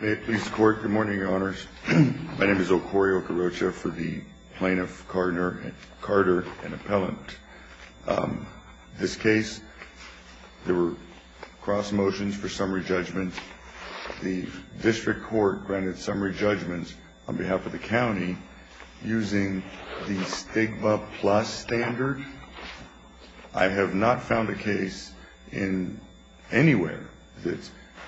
Good morning, Your Honors. My name is Okori Okorocha for the Plaintiff, Carter, and Appellant. This case, there were cross motions for summary judgment. The district court granted summary judgments on behalf of the county using the STIGMA Plus standard. I have not found a case in anywhere that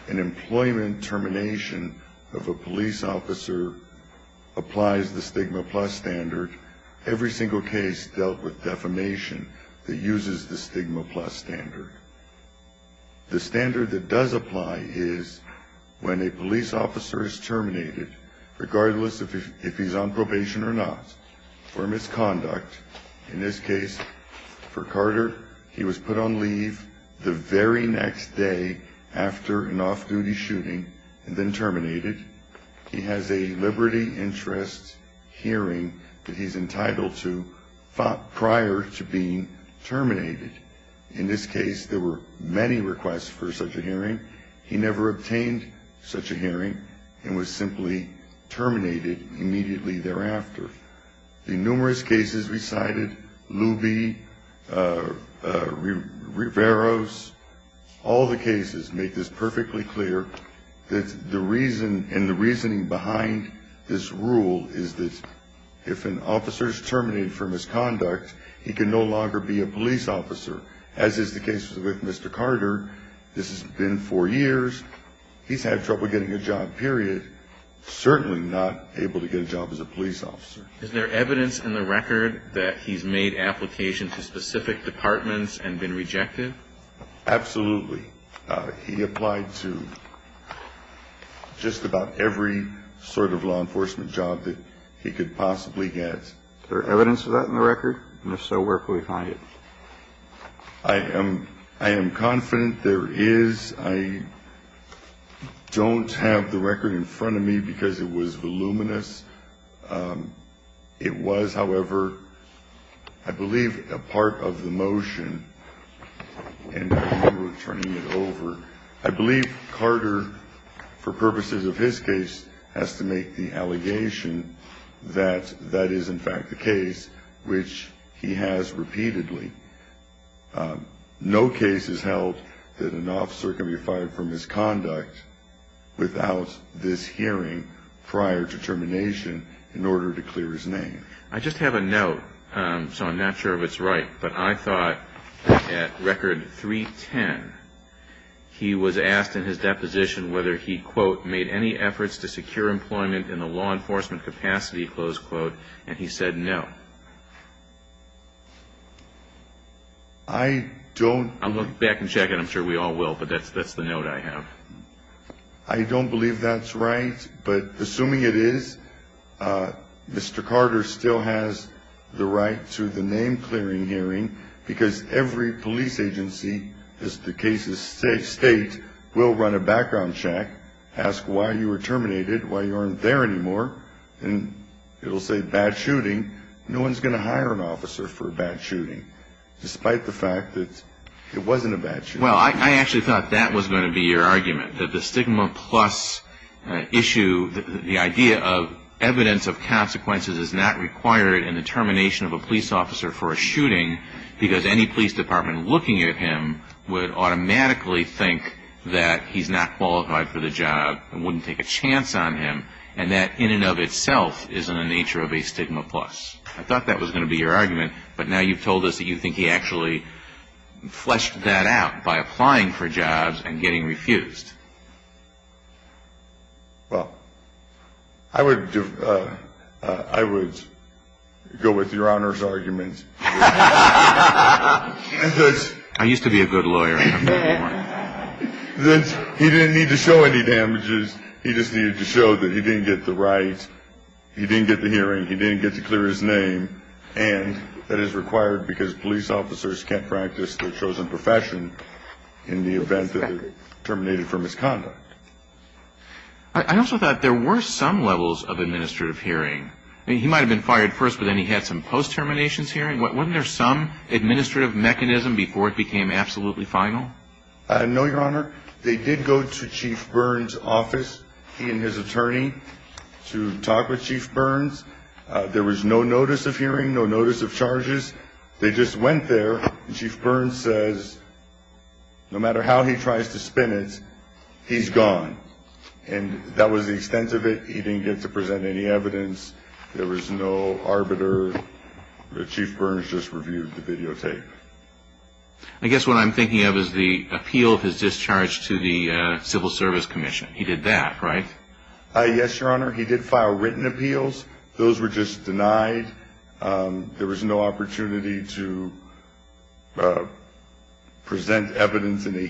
an employment termination of a police officer applies the STIGMA Plus standard. Every single case dealt with defamation that uses the STIGMA Plus standard. The standard that does apply is when a police officer is terminated, regardless of if he's on probation or not, for misconduct. In this case, for Carter, he was put on leave the very next day after an off-duty shooting and then terminated. He has a liberty interest hearing that he's entitled to prior to being terminated. In this case, there were many requests for such a hearing. He never obtained such a hearing and was simply terminated immediately thereafter. The numerous cases we cited, Luby, Riveros, all the cases make this perfectly clear. The reason and the reasoning behind this rule is that if an officer is terminated for misconduct, he can no longer be a police officer, as is the case with Mr. Carter. This has been four years. He's had trouble getting a job, period. Certainly not able to get a job as a police officer. Is there evidence in the record that he's made applications to specific departments and been rejected? Absolutely. He applied to just about every sort of law enforcement job that he could possibly get. Is there evidence of that in the record? And if so, where can we find it? I am confident there is. I don't have the record in front of me because it was voluminous. It was, however, I believe a part of the motion, and I remember turning it over. I believe Carter, for purposes of his case, has to make the allegation that that is in fact the case, which he has repeatedly. No case has held that an officer can be fired for misconduct without this hearing prior to termination in order to clear his name. I just have a note, so I'm not sure if it's right, but I thought at record 310, he was asked in his deposition whether he, quote, made any efforts to secure employment in the law enforcement capacity, close quote, and he said no. I don't. I'll look back and check it. I'm sure we all will, but that's the note I have. I don't believe that's right. But assuming it is, Mr. Carter still has the right to the name-clearing hearing because every police agency, as the cases state, will run a background check, ask why you were terminated, why you aren't there anymore, and it will say bad shooting. No one is going to hire an officer for a bad shooting, despite the fact that it wasn't a bad shooting. Well, I actually thought that was going to be your argument, that the stigma plus issue, the idea of evidence of consequences is not required in the termination of a police officer for a shooting because any police department looking at him would automatically think that he's not qualified for the job and wouldn't take a chance on him, and that in and of itself is in the nature of a stigma plus. But now you've told us that you think he actually fleshed that out by applying for jobs and getting refused. Well, I would go with Your Honor's argument. I used to be a good lawyer. He didn't need to show any damages. He just needed to show that he didn't get the rights, he didn't get the hearing, he didn't get to clear his name, and that is required because police officers can't practice their chosen profession in the event that they're terminated for misconduct. I also thought there were some levels of administrative hearing. I mean, he might have been fired first, but then he had some post-terminations hearing. Wasn't there some administrative mechanism before it became absolutely final? No, Your Honor. They did go to Chief Burns' office, he and his attorney, to talk with Chief Burns. There was no notice of hearing, no notice of charges. They just went there, and Chief Burns says no matter how he tries to spin it, he's gone. And that was the extent of it. He didn't get to present any evidence. There was no arbiter. Chief Burns just reviewed the videotape. I guess what I'm thinking of is the appeal of his discharge to the Civil Service Commission. He did that, right? Yes, Your Honor. He did file written appeals. Those were just denied. There was no opportunity to present evidence in a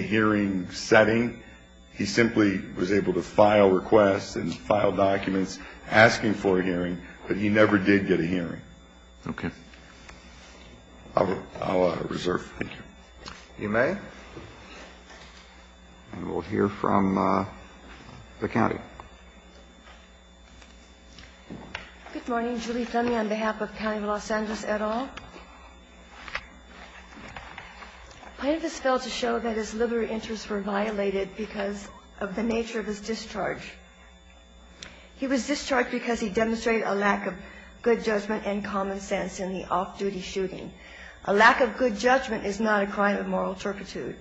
hearing setting. He simply was able to file requests and file documents asking for a hearing, but he never did get a hearing. Okay. I'll reserve. Thank you. You may. And we'll hear from the county. Good morning. Julie Fenney on behalf of County of Los Angeles et al. The plaintiff has failed to show that his liberal interests were violated because of the nature of his discharge. He was discharged because he demonstrated a lack of good judgment and common sense in the off-duty shooting. A lack of good judgment is not a crime of moral turpitude.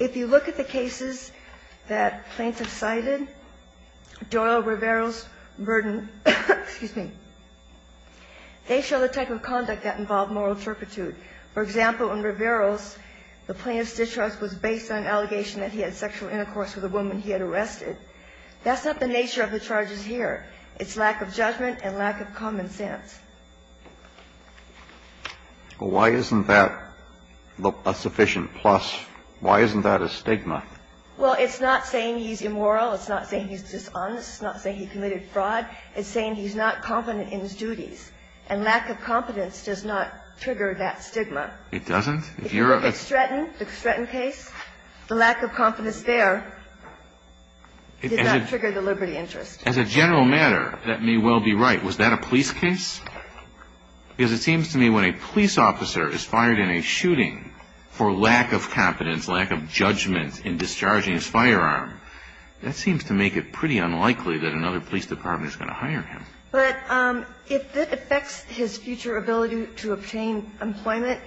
If you look at the cases that plaintiffs cited, Doyle, Riveros, Burden, excuse me, they show the type of conduct that involved moral turpitude. For example, in Riveros, the plaintiff's discharge was based on an allegation that he had sexual intercourse with a woman he had arrested. That's not the nature of the charges here. It's lack of judgment and lack of common sense. Well, why isn't that a sufficient plus? Why isn't that a stigma? Well, it's not saying he's immoral. It's not saying he's dishonest. It's not saying he committed fraud. It's saying he's not confident in his duties. And lack of confidence does not trigger that stigma. It doesn't? If you're a ---- If it's threatened, the Stretton case, the lack of confidence there does not trigger the liberty interest. As a general matter, that may well be right. Was that a police case? Because it seems to me when a police officer is fired in a shooting for lack of confidence, lack of judgment in discharging his firearm, that seems to make it pretty unlikely that another police department is going to hire him. But if that affects his future ability to obtain employment,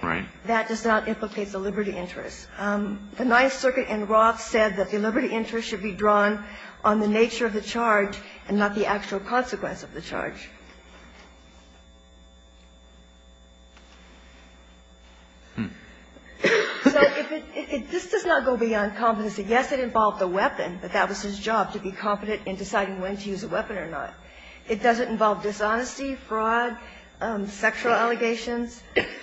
that does not implicate the liberty interest. The Ninth Circuit in Roth said that the liberty interest should be drawn on the nature of the charge and not the actual consequence of the charge. So if it ---- this does not go beyond confidence. Yes, it involved a weapon, but that was his job, to be confident in deciding when to use a weapon or not. It doesn't involve dishonesty, fraud, sexual allegations.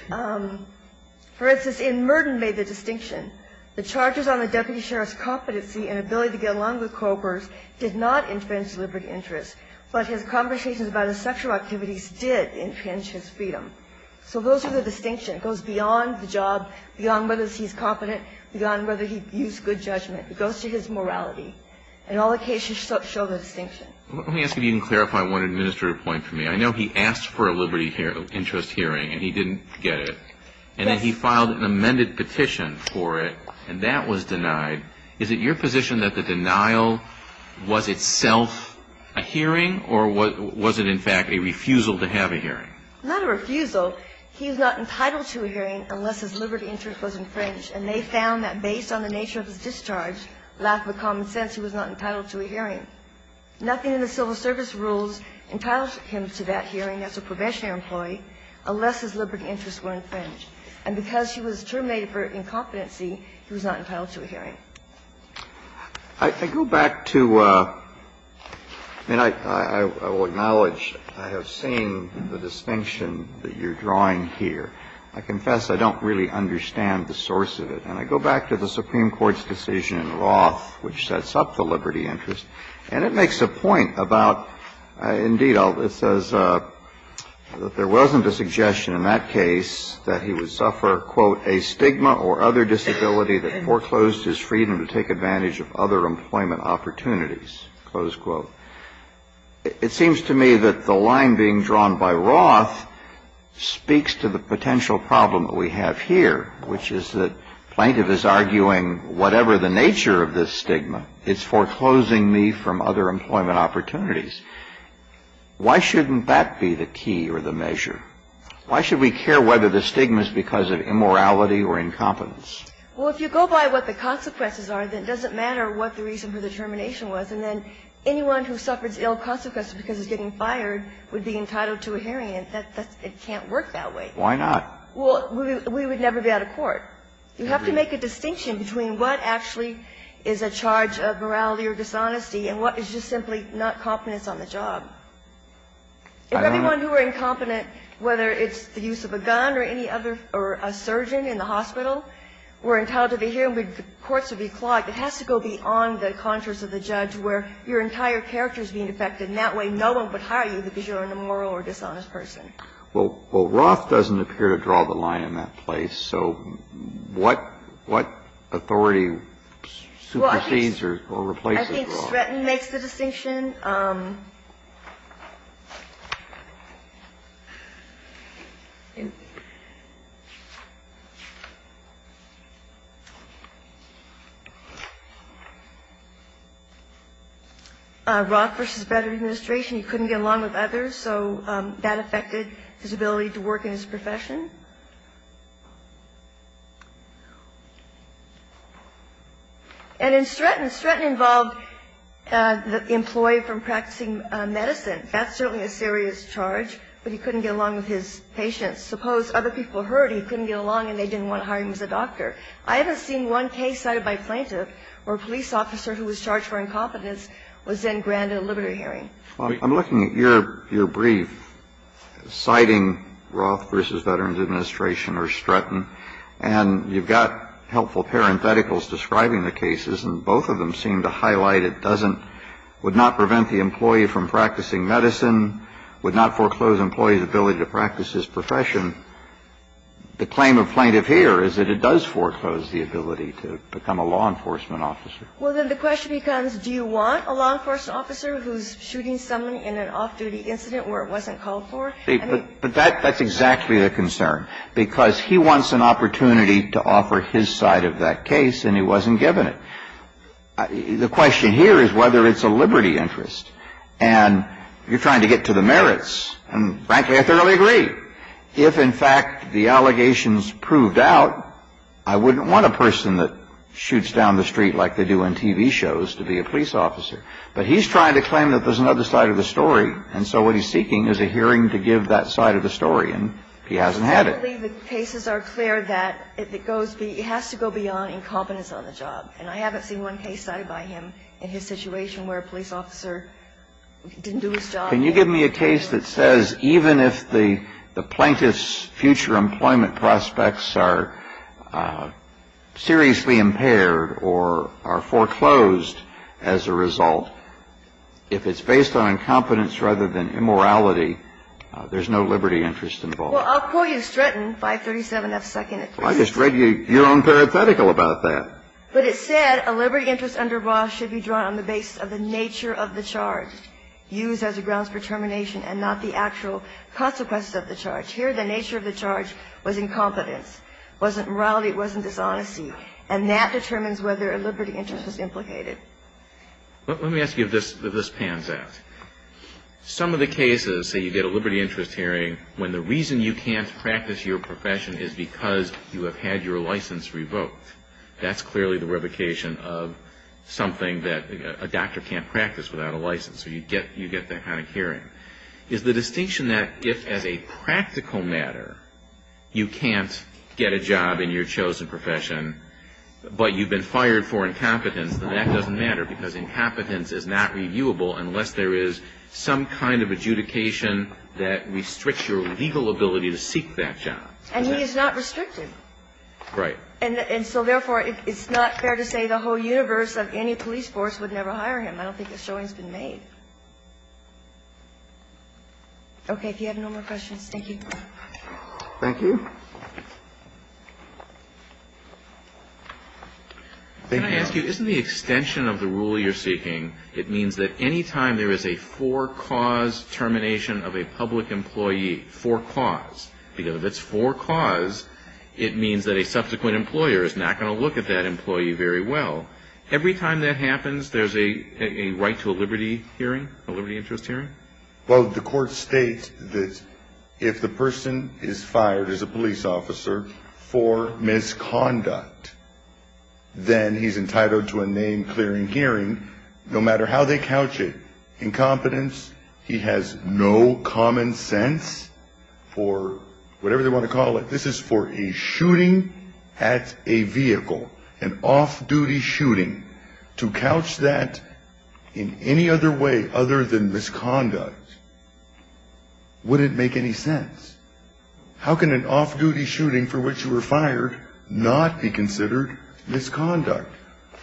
For instance, in Merton made the distinction. The charges on the deputy sheriff's competency and ability to get along with co-workers did not infringe liberty interest. But his conversations about his sexual activities did infringe his freedom. So those are the distinctions. It goes beyond the job, beyond whether he's confident, beyond whether he views good judgment. It goes to his morality. And all the cases show the distinction. Let me ask if you can clarify one administrative point for me. I know he asked for a liberty interest hearing, and he didn't get it. Yes. And then he filed an amended petition for it, and that was denied. And I'm just wondering, is it your position that the denial was itself a hearing or was it in fact a refusal to have a hearing? Not a refusal. He is not entitled to a hearing unless his liberty interest was infringed. And they found that based on the nature of his discharge, lack of a common sense, he was not entitled to a hearing. Nothing in the civil service rules entitles him to that hearing as a probationary employee unless his liberty interests were infringed. And because he was terminated for incompetency, he was not entitled to a hearing. I go back to the Supreme Court's decision in Roth, which sets up the liberty interest. And it makes a point about, indeed, it says that there wasn't a suggestion in that case that he would suffer, quote, a stigma or other disability that foreclosed his freedom to take advantage of other employment opportunities, close quote. It seems to me that the line being drawn by Roth speaks to the potential problem that we have here, which is that Plaintiff is arguing whatever the nature of this disability is, it should be free from other employment opportunities. Why shouldn't that be the key or the measure? Why should we care whether the stigma is because of immorality or incompetence? Well, if you go by what the consequences are, then it doesn't matter what the reason for the termination was. And then anyone who suffers ill consequences because he's getting fired would be entitled to a hearing. It can't work that way. Why not? Well, we would never be out of court. You have to make a distinction between what actually is a charge of morality or dishonesty and what is just simply not competence on the job. If everyone who were incompetent, whether it's the use of a gun or any other or a surgeon in the hospital, were entitled to the hearing, the courts would be clogged. It has to go beyond the conscience of the judge where your entire character is being affected, and that way no one would hire you because you're an immoral or dishonest person. Well, Roth doesn't appear to draw the line in that place. So what authority supersedes or replaces Roth? I think Stratton makes the distinction. Roth v. Better Administration, he couldn't get along with others, so that affected his ability to work in his profession. And in Stratton, Stratton involved the employee from practicing medicine. That's certainly a serious charge, but he couldn't get along with his patients. Suppose other people heard he couldn't get along and they didn't want to hire him as a doctor. I haven't seen one case cited by a plaintiff where a police officer who was charged for incompetence was then granted a liberty hearing. I'm looking at your brief citing Roth v. Better Administration or Stratton, and you've got helpful parentheticals describing the cases, and both of them seem to highlight it doesn't, would not prevent the employee from practicing medicine, would not foreclose the employee's ability to practice his profession. The claim of plaintiff here is that it does foreclose the ability to become a law enforcement officer. Well, then the question becomes, do you want a law enforcement officer who's shooting someone in an off-duty incident where it wasn't called for? But that's exactly the concern. Because he wants an opportunity to offer his side of that case, and he wasn't given it. The question here is whether it's a liberty interest. And you're trying to get to the merits. And frankly, I thoroughly agree. If, in fact, the allegations proved out, I wouldn't want a person that shoots down the street like they do in TV shows to be a police officer. But he's trying to claim that there's another side of the story. And so what he's seeking is a hearing to give that side of the story. And he hasn't had it. I believe the cases are clear that it goes be – it has to go beyond incompetence on the job. And I haven't seen one case cited by him in his situation where a police officer didn't do his job. Can you give me a case that says even if the plaintiff's future employment prospects are seriously impaired or are foreclosed as a result, if it's based on incompetence rather than immorality, there's no liberty interest involved? Well, I'll quote you Stratton, 537F2nd. Well, I just read your own parenthetical about that. But it said a liberty interest under Ross should be drawn on the basis of the nature of the charge used as a grounds for termination and not the actual consequences of the charge. Here the nature of the charge was incompetence. It wasn't morality. It wasn't dishonesty. And that determines whether a liberty interest is implicated. Let me ask you if this pans out. Some of the cases, say you get a liberty interest hearing when the reason you can't practice your profession is because you have had your license revoked. That's clearly the revocation of something that a doctor can't practice without a license. So you get that kind of hearing. Is the distinction that if, as a practical matter, you can't get a job in your chosen profession, but you've been fired for incompetence, then that doesn't matter because incompetence is not reviewable unless there is some kind of adjudication that restricts your legal ability to seek that job? And he is not restricted. Right. And so, therefore, it's not fair to say the whole universe of any police force would never hire him. I don't think a showing's been made. Okay. If you have no more questions, thank you. Thank you. Can I ask you, isn't the extension of the rule you're seeking, it means that any time there is a for-cause termination of a public employee, for-cause, because if it's for-cause, it means that a subsequent employer is not going to look at that employee very well. Every time that happens, there's a right to a liberty hearing? A liberty interest hearing? Well, the court states that if the person is fired as a police officer for misconduct, then he's entitled to a name-clearing hearing no matter how they couch it. Incompetence, he has no common sense for whatever they want to call it. This is for a shooting at a vehicle, an off-duty shooting. To couch that in any other way other than misconduct wouldn't make any sense. How can an off-duty shooting for which you were fired not be considered misconduct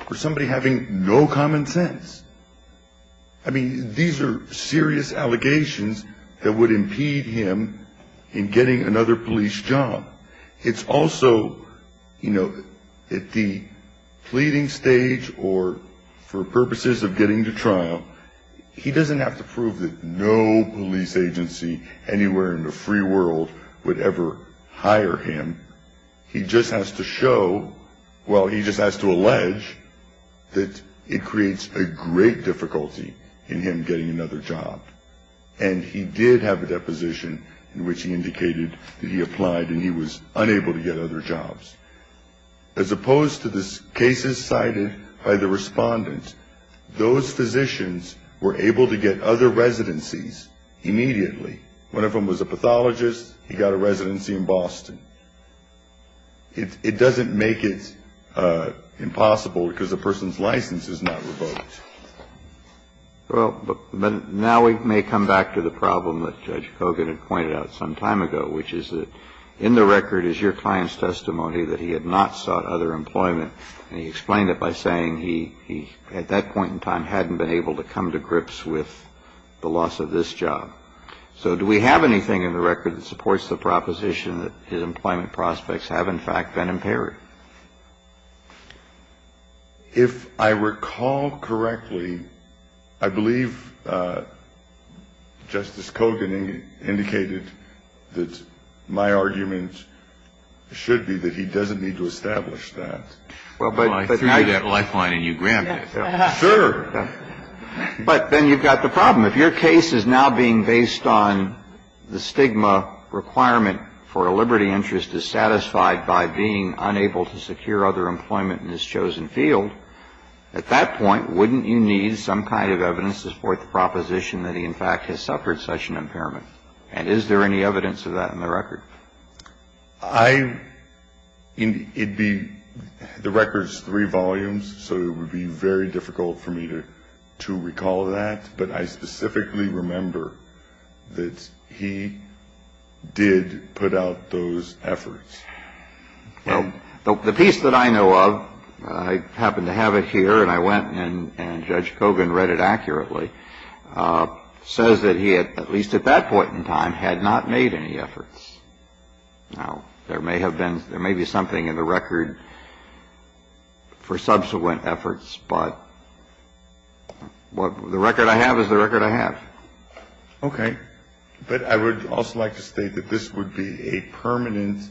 for somebody having no common sense? I mean, these are serious allegations that would impede him in getting another police job. It's also, you know, at the pleading stage or for purposes of getting to trial, he doesn't have to prove that no police agency anywhere in the free world would ever hire him. He just has to show, well, he just has to allege that it creates a great difficulty in him getting another job. And he did have a deposition in which he indicated that he applied and he was unable to get other jobs. As opposed to the cases cited by the respondents, those physicians were able to get other residencies immediately. One of them was a pathologist. He got a residency in Boston. It doesn't make it impossible because a person's license is not revoked. Well, but now we may come back to the problem that Judge Kogan had pointed out some time ago, which is that in the record is your client's testimony that he had not sought other employment. And he explained it by saying he, at that point in time, hadn't been able to come to grips with the loss of this job. So do we have anything in the record that supports the proposition that his employment prospects have, in fact, been impaired? If I recall correctly, I believe Justice Kogan indicated that my argument should be that he doesn't need to establish that. Well, but I threw you that lifeline and you grabbed it. Sure. But then you've got the problem. If your case is now being based on the stigma requirement for a liberty interest dissatisfied by being unable to secure other employment in his chosen field, at that point, wouldn't you need some kind of evidence to support the proposition that he, in fact, has suffered such an impairment? And is there any evidence of that in the record? I, it'd be, the record's three volumes, so it would be very difficult for me to recall that. But I specifically remember that he did put out those efforts. Well, the piece that I know of, I happen to have it here, and I went and Judge Kogan read it accurately, says that he, at least at that point in time, had not made any efforts. Now, there may have been, there may be something in the record for subsequent efforts, but the record I have is the record I have. Okay. But I would also like to state that this would be a permanent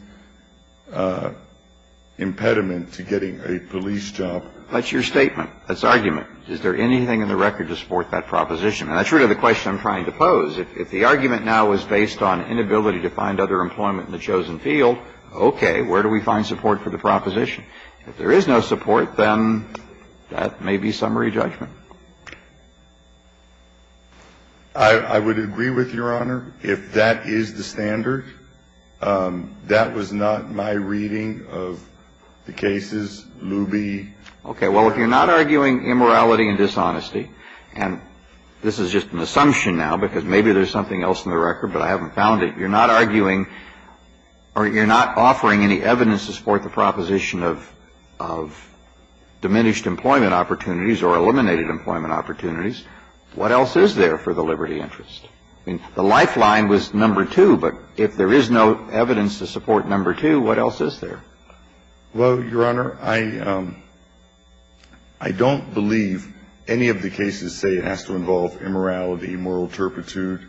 impediment to getting a police job. That's your statement. That's argument. Is there anything in the record to support that proposition? And that's really the question I'm trying to pose. If the argument now is based on inability to find other employment in the chosen field, okay, where do we find support for the proposition? If there is no support, then that may be summary judgment. I would agree with Your Honor. If that is the standard, that was not my reading of the cases. Luby. Okay. Well, if you're not arguing immorality and dishonesty, and this is just an assumption now, because maybe there's something else in the record, but I haven't found it, you're not arguing or you're not offering any evidence to support the proposition of diminished employment opportunities or eliminated employment opportunities, what else is there for the liberty interest? I mean, the lifeline was number two, but if there is no evidence to support number two, what else is there? Well, Your Honor, I don't believe any of the cases say it has to involve immorality, moral turpitude.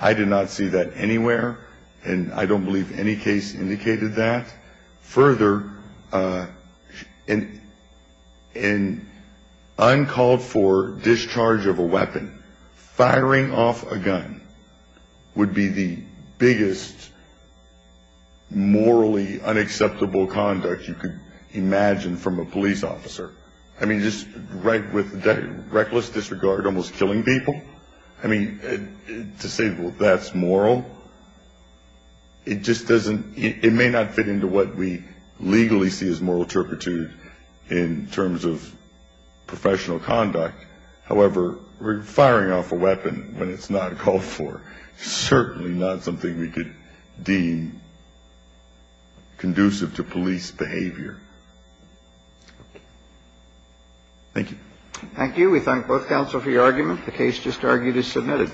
I did not see that anywhere, and I don't believe any case indicated that. Further, in uncalled for discharge of a weapon, firing off a gun would be the biggest morally unacceptable conduct you could imagine from a police officer. I mean, just right with reckless disregard, almost killing people. I mean, to say that's moral, it just doesn't, it may not fit into what we legally see as moral turpitude in terms of professional conduct. However, firing off a weapon when it's not called for, certainly not something we could deem conducive to police behavior. Thank you. Thank you. We thank both counsel for your argument. The case just argued is submitted.